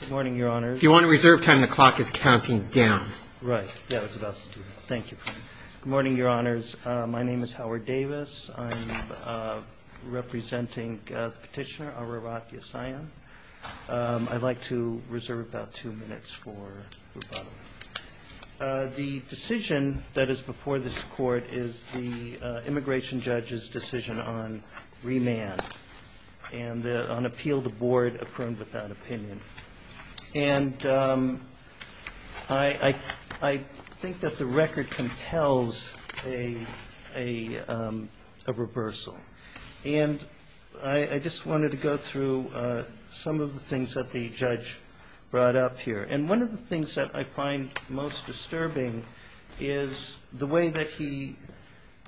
Good morning, your honors. If you want to reserve time, the clock is counting down. Right, that was about to do it. Thank you. Good morning, your honors. My name is Howard Davis. I'm representing Petitioner Ararat Yesayan. I'd like to reserve about two minutes for rebuttal. The decision that is before this Court is the immigration judge's decision on remand and on appeal to board affirmed without opinion. And I think that the record compels a reversal. And I just wanted to go through some of the things that the judge brought up here. And one of the things that I find most disturbing is the way that he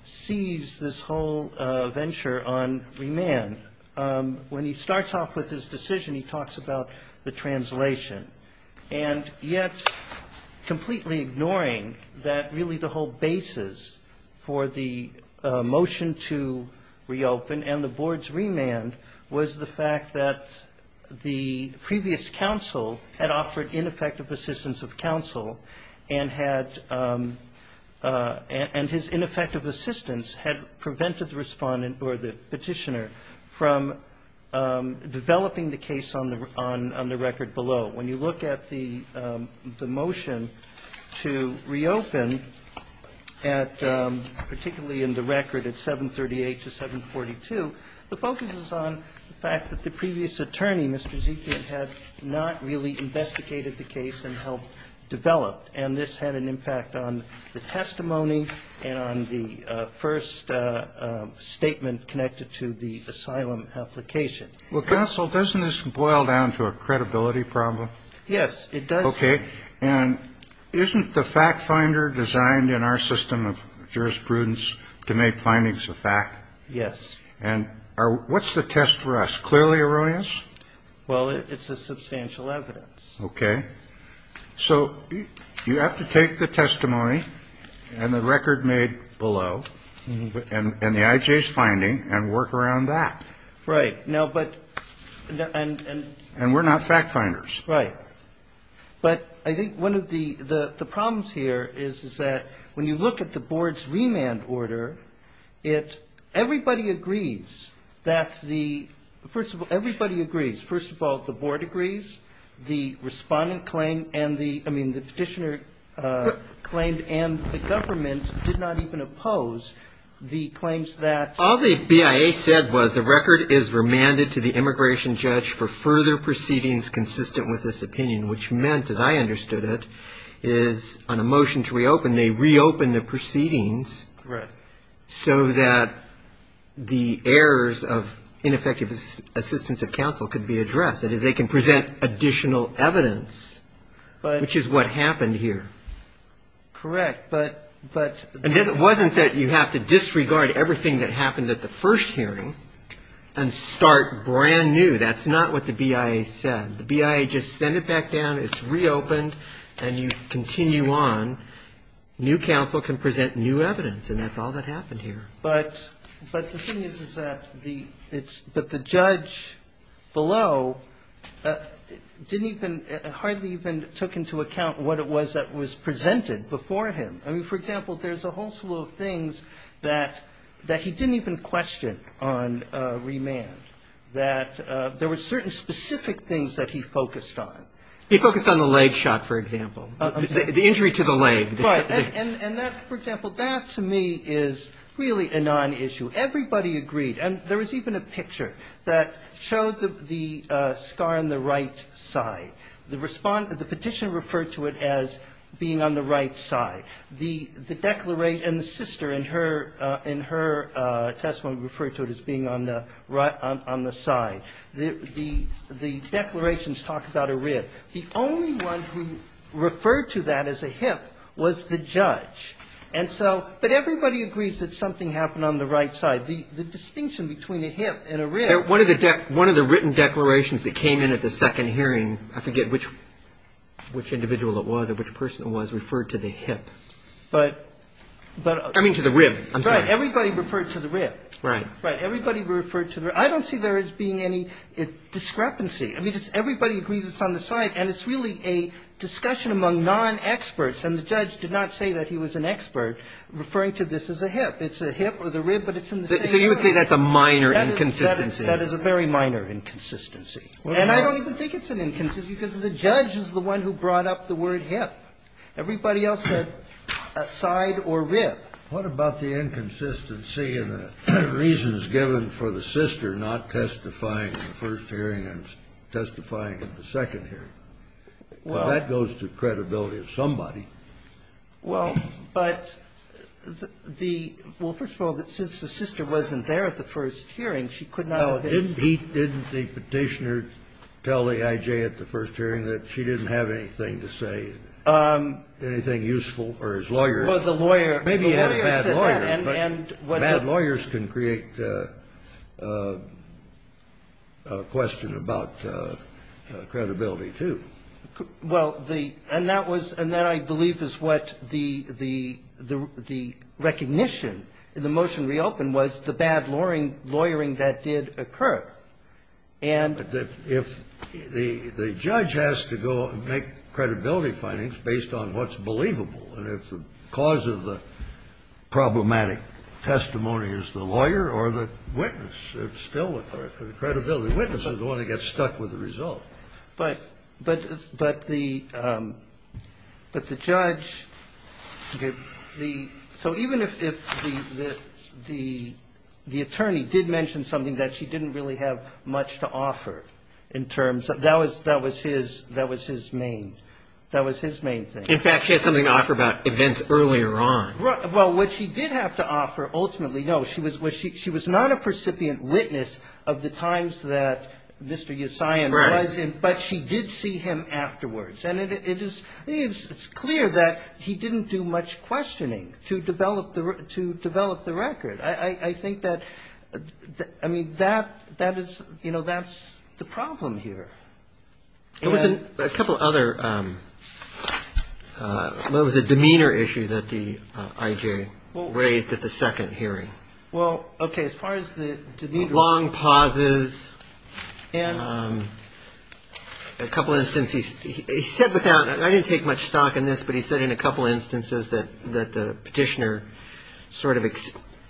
sees this whole venture on remand. When he starts off with his decision, he talks about the translation. And yet, completely ignoring that really the whole basis for the motion to reopen and the board's remand was the fact that the previous counsel had offered ineffective assistance of counsel and had his ineffective assistance had prevented the Respondent or the Petitioner from developing the case on the record below. When you look at the motion to reopen at particularly in the record at 738 to 742, the focus is on the fact that the previous attorney, Mr. Zekian, had not really investigated the case and helped develop. And this had an impact on the testimony and on the first statement connected to the asylum application. Well, counsel, doesn't this boil down to a credibility problem? Yes, it does. Okay. And isn't the fact finder designed in our system of jurisprudence to make findings a fact? Yes. And what's the test for us? Clearly erroneous? Well, it's a substantial evidence. Okay. So you have to take the testimony and the record made below and the IJ's finding and work around that. Right. Now, but and we're not fact finders. Right. But I think one of the problems here is that when you look at the Board's remand order, it everybody agrees that the first of all, everybody agrees, first of all, the Board agrees, the Respondent claimed and the I mean, the Petitioner claimed and the government did not even oppose the claims that All the BIA said was the record is remanded to the immigration judge for further proceedings consistent with this opinion, which meant, as I understood it, is on a motion to reopen, they reopen the proceedings. Correct. So that the errors of ineffective assistance of counsel could be addressed. That is, they can present additional evidence, which is what happened here. Correct. And it wasn't that you have to disregard everything that happened at the first hearing and start brand new. That's not what the BIA said. The BIA just sent it back down. It's reopened. And you continue on. New counsel can present new evidence. And that's all that happened here. But the thing is, is that the it's but the judge below didn't even hardly even took into account what it was that was presented before him. I mean, for example, there's a whole slew of things that that he didn't even question on remand, that there were certain specific things that he focused on. He focused on the leg shot, for example, the injury to the leg. Right. And that, for example, that to me is really a nonissue. Everybody agreed. And there was even a picture that showed the scar on the right side. The petitioner referred to it as being on the right side. The declarant and the sister in her testimony referred to it as being on the side. The declarations talk about a rib. The only one who referred to that as a hip was the judge. And so but everybody agrees that something happened on the right side. The distinction between a hip and a rib. One of the written declarations that came in at the second hearing, I forget which individual it was or which person it was, referred to the hip. But. I mean, to the rib. Right. Everybody referred to the rib. Right. Right. Everybody referred to the rib. I don't see there as being any discrepancy. I mean, it's everybody agrees it's on the side. And it's really a discussion among non-experts. And the judge did not say that he was an expert referring to this as a hip. It's a hip or the rib, but it's in the same area. So you would say that's a minor inconsistency. That is a very minor inconsistency. And I don't even think it's an inconsistency because the judge is the one who brought up the word hip. Everybody else said side or rib. What about the inconsistency in the reasons given for the sister not testifying in the first hearing and testifying in the second hearing? Well. That goes to credibility of somebody. Well, but the — well, first of all, since the sister wasn't there at the first hearing, she could not have been. Now, didn't he — didn't the Petitioner tell the I.J. at the first hearing that she didn't have anything to say, anything useful? Or his lawyer. Or the lawyer. Maybe he had a bad lawyer. But bad lawyers can create a question about credibility, too. Well, the — and that was — and that, I believe, is what the — the recognition in the motion reopened was the bad lawyering that did occur. And — But if the judge has to go and make credibility findings based on what's believable and if the cause of the problematic testimony is the lawyer or the witness, it's still a credibility. Witnesses don't want to get stuck with the result. But — but the — but the judge, the — so even if the attorney did mention something that she didn't really have much to offer in terms of — that was his — that was his main — that was his main thing. In fact, she had something to offer about events earlier on. Well, what she did have to offer, ultimately, no, she was — she was not a precipient witness of the times that Mr. Yesion was in. Right. But she did see him afterwards. And it is — I mean, it's clear that he didn't do much questioning to develop the — to develop the record. I think that — I mean, that — that is — you know, that's the problem here. There was a couple other — what was it, demeanor issue that the I.J. raised at the second hearing? Well, OK, as far as the demeanor — Long pauses. And? A couple instances — he said without — I didn't take much stock in this, but he said in a couple instances that the petitioner sort of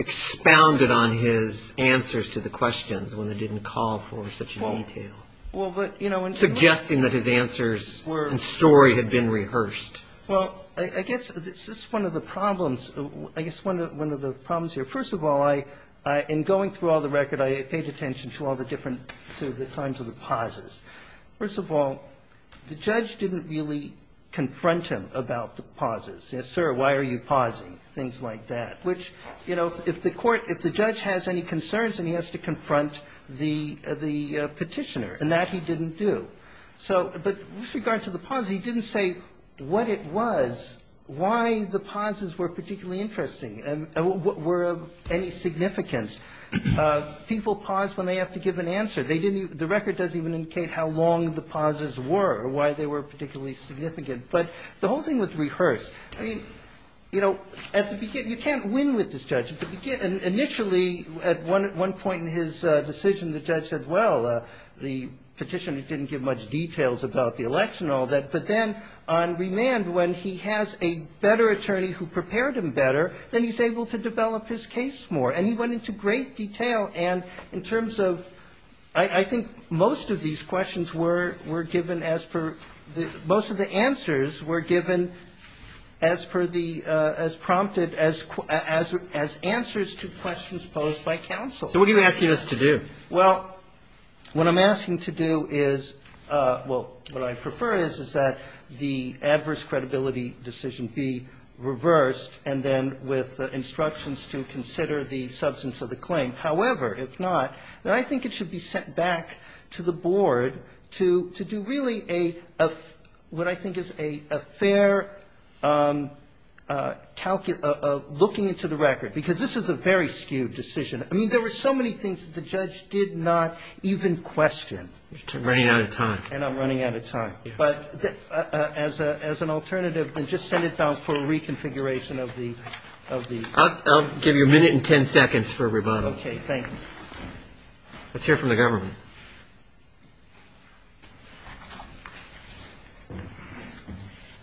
expounded on his answers to the questions when they didn't call for such detail. Well, but, you know — Suggesting that his answers and story had been rehearsed. Well, I guess this is one of the problems — I guess one of the problems here. First of all, I — in going through all the record, I paid attention to all the different — to the kinds of pauses. First of all, the judge didn't really confront him about the pauses. Yes, sir, why are you pausing? Things like that. I mean, the whole thing was rehearsed, which, you know, if the court — if the judge has any concerns, then he has to confront the petitioner, and that he didn't do. So — but with regard to the pauses, he didn't say what it was, why the pauses were particularly interesting and were of any significance. People pause when they have to give an answer. They didn't — the record doesn't even indicate how long the pauses were or why they were particularly significant. But the whole thing was rehearsed. I mean, you know, at the beginning — you can't win with this judge. At the beginning — initially, at one point in his decision, the judge said, well, the petitioner didn't give much details about the election and all that. But then on remand, when he has a better attorney who prepared him better, then he's able to develop his case more. And he went into great detail. And in terms of — I think most of these questions were — were given as per — most of the answers were given as per the — as prompted as — as answers to questions posed by counsel. Roberts. So what are you asking us to do? Katyal. Well, what I'm asking to do is — well, what I prefer is, is that the adverse credibility decision be reversed and then with instructions to consider the substance of the claim. However, if not, then I think it should be sent back to the board to do really a — what I think is a fair looking into the record, because this is a very skewed decision. I mean, there were so many things that the judge did not even question. You're running out of time. And I'm running out of time. But as an alternative, then just send it down for a reconfiguration of the — of the — I'll give you a minute and 10 seconds for a rebuttal. Okay. Thank you. Let's hear from the government.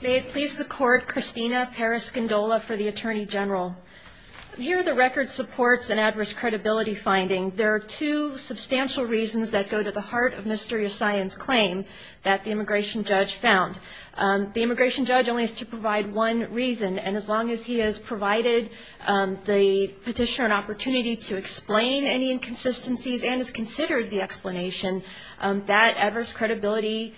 May it please the Court, Christina Periscindola for the Attorney General. Here the record supports an adverse credibility finding. There are two substantial reasons that go to the heart of Mr. Yassayan's claim that the immigration judge found. The immigration judge only has to provide one reason. And as long as he has provided the petitioner an opportunity to explain any inconsistencies and has considered the explanation, that adverse credibility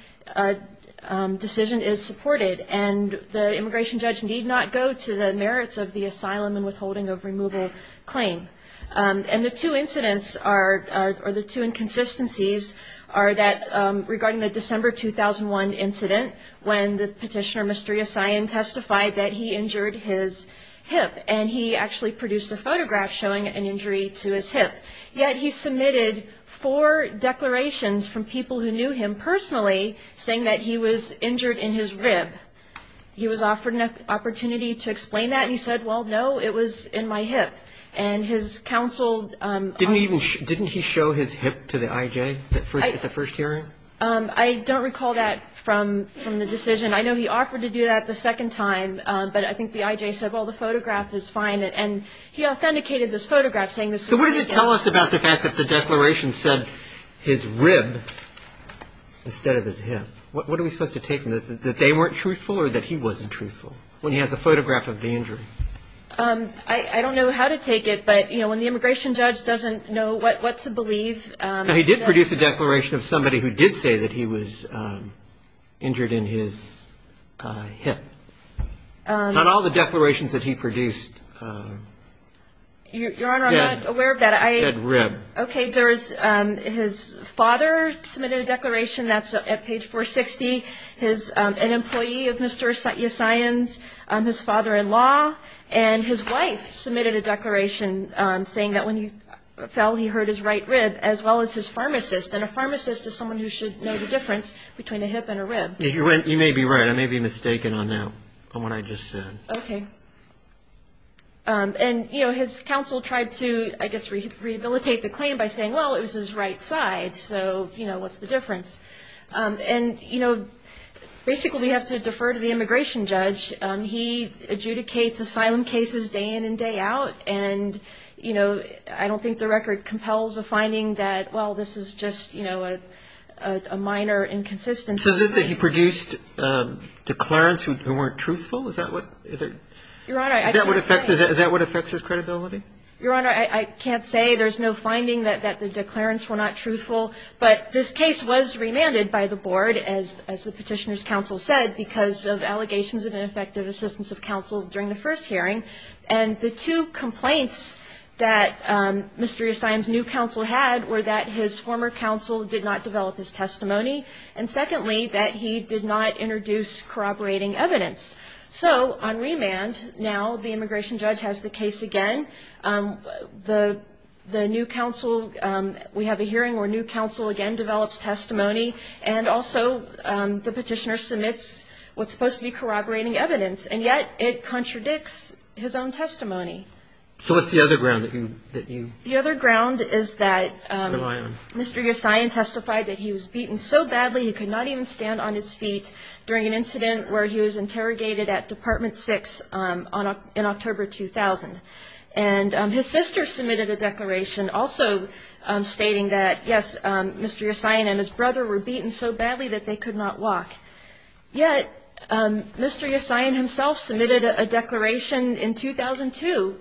decision is supported. And the immigration judge need not go to the merits of the asylum and withholding of removal claim. And the two incidents are — or the two inconsistencies are that regarding the December 2001 incident, when the petitioner, Mr. Yassayan, testified that he injured his hip. And he actually produced a photograph showing an injury to his hip. Yet he submitted four declarations from people who knew him personally saying that he was injured in his rib. He was offered an opportunity to explain that. And he said, well, no, it was in my hip. And his counsel — Didn't he show his hip to the IJ at the first hearing? I don't recall that from the decision. I know he offered to do that the second time. But I think the IJ said, well, the photograph is fine. And he authenticated this photograph saying this was — So what does it tell us about the fact that the declaration said his rib instead of his hip? What are we supposed to take? That they weren't truthful or that he wasn't truthful when he has a photograph of the injury? I don't know how to take it. But, you know, when the immigration judge doesn't know what to believe — He did say that he was injured in his hip. Not all the declarations that he produced said rib. Okay. There is — his father submitted a declaration. That's at page 460. An employee of Mr. Yassayan's, his father-in-law, and his wife submitted a declaration saying that when he fell, he hurt his right rib, as well as his pharmacist. And a pharmacist is someone who should know the difference between a hip and a rib. You may be right. I may be mistaken on what I just said. Okay. And, you know, his counsel tried to, I guess, rehabilitate the claim by saying, well, it was his right side. So, you know, what's the difference? And, you know, basically we have to defer to the immigration judge. He adjudicates asylum cases day in and day out. And, you know, I don't think the record compels a finding that, well, this is just, you know, a minor inconsistency. So is it that he produced declarants who weren't truthful? Is that what affects his credibility? Your Honor, I can't say. There's no finding that the declarants were not truthful. But this case was remanded by the board, as the Petitioner's counsel said, because of allegations of ineffective assistance of counsel during the first hearing. And the two complaints that Mr. Eustein's new counsel had were that his former counsel did not develop his testimony, and secondly, that he did not introduce corroborating evidence. So on remand, now the immigration judge has the case again. The new counsel, we have a hearing where new counsel again develops testimony, and also the Petitioner submits what's supposed to be corroborating evidence. And yet it contradicts his own testimony. So what's the other ground that you rely on? The other ground is that Mr. Eustein testified that he was beaten so badly he could not even stand on his feet during an incident where he was interrogated at Department 6 in October 2000. And his sister submitted a declaration also stating that, yes, Mr. Eustein and his brother were beaten so badly that they could not walk. Yet Mr. Eustein himself submitted a declaration in 2002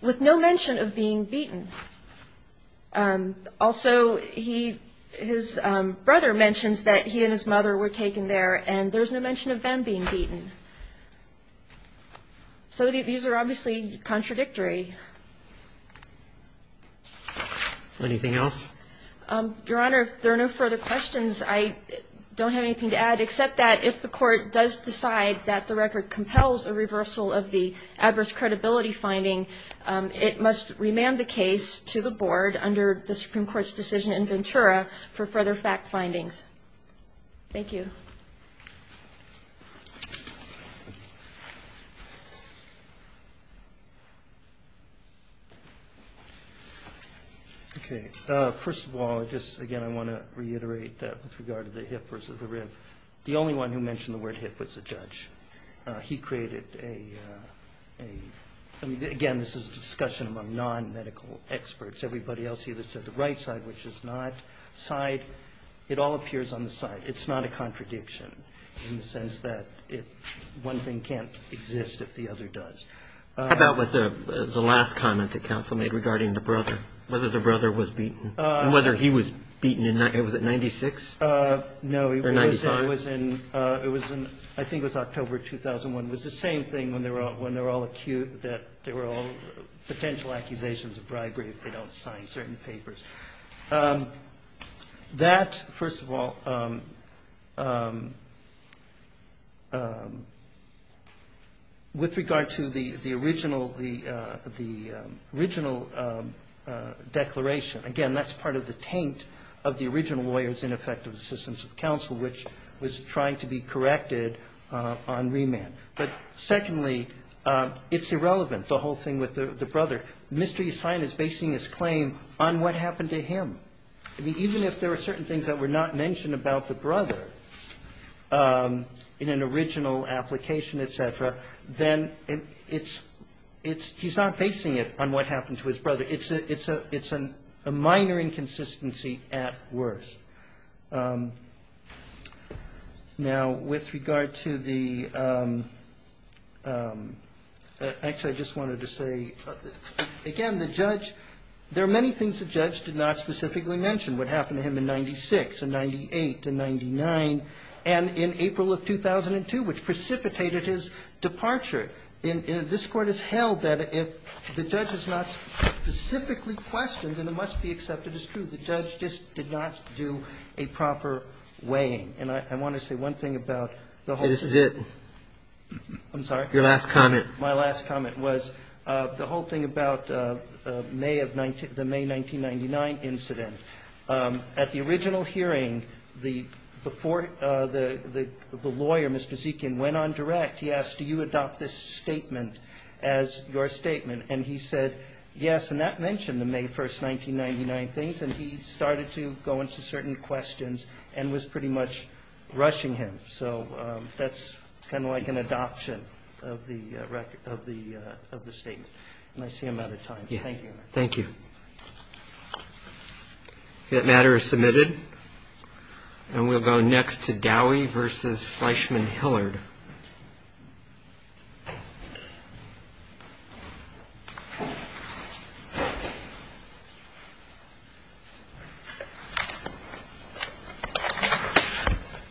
with no mention of being beaten. Also, he – his brother mentions that he and his mother were taken there, and there's no mention of them being beaten. So these are obviously contradictory. Anything else? Your Honor, if there are no further questions, I don't have anything to add except that if the Court does decide that the record compels a reversal of the adverse credibility finding, it must remand the case to the Board under the Supreme Court's decision in Ventura for further fact findings. Thank you. Okay. First of all, just again I want to reiterate that with regard to the hip versus the rib, the only one who mentioned the word hip was the judge. He created a – again, this is a discussion among non-medical experts. Everybody else either said the right side, which is not side. It all appears on the side. It's not a contradiction in the sense that it – one thing can't exist if the other does. How about with the last comment that counsel made regarding the brother, whether the brother was beaten and whether he was beaten in – was it 96? No. Or 95? It was in – I think it was October 2001. It was the same thing when they're all acute, that they were all potential accusations of bribery if they don't sign certain papers. That, first of all, with regard to the original declaration, again, that's part of the taint of the original lawyer's ineffective assistance of counsel, which was trying to be corrected on remand. But secondly, it's irrelevant, the whole thing with the brother. The mystery assigned is basing his claim on what happened to him. I mean, even if there were certain things that were not mentioned about the brother in an original application, et cetera, then it's – he's not basing it on what happened to his brother. It's a minor inconsistency at worst. Now, with regard to the – actually, I just wanted to say, again, the judge – there are many things the judge did not specifically mention, what happened to him in 96 and 98 and 99 and in April of 2002, which precipitated his departure. And this Court has held that if the judge is not specifically questioned, then it must be accepted as true. The judge just did not do a proper weighing. And I want to say one thing about the whole – This is it. I'm sorry? Your last comment. My last comment was the whole thing about May of – the May 1999 incident. At the original hearing, the – before the lawyer, Mr. Zekin, went on direct, he asked, do you adopt this statement as your statement? And he said, yes. And that mentioned the May 1st, 1999 things. And he started to go into certain questions and was pretty much rushing him. So that's kind of like an adoption of the statement. And I see I'm out of time. Thank you. Thank you. That matter is submitted. And we'll go next to Dowie v. Fleischman-Hillard.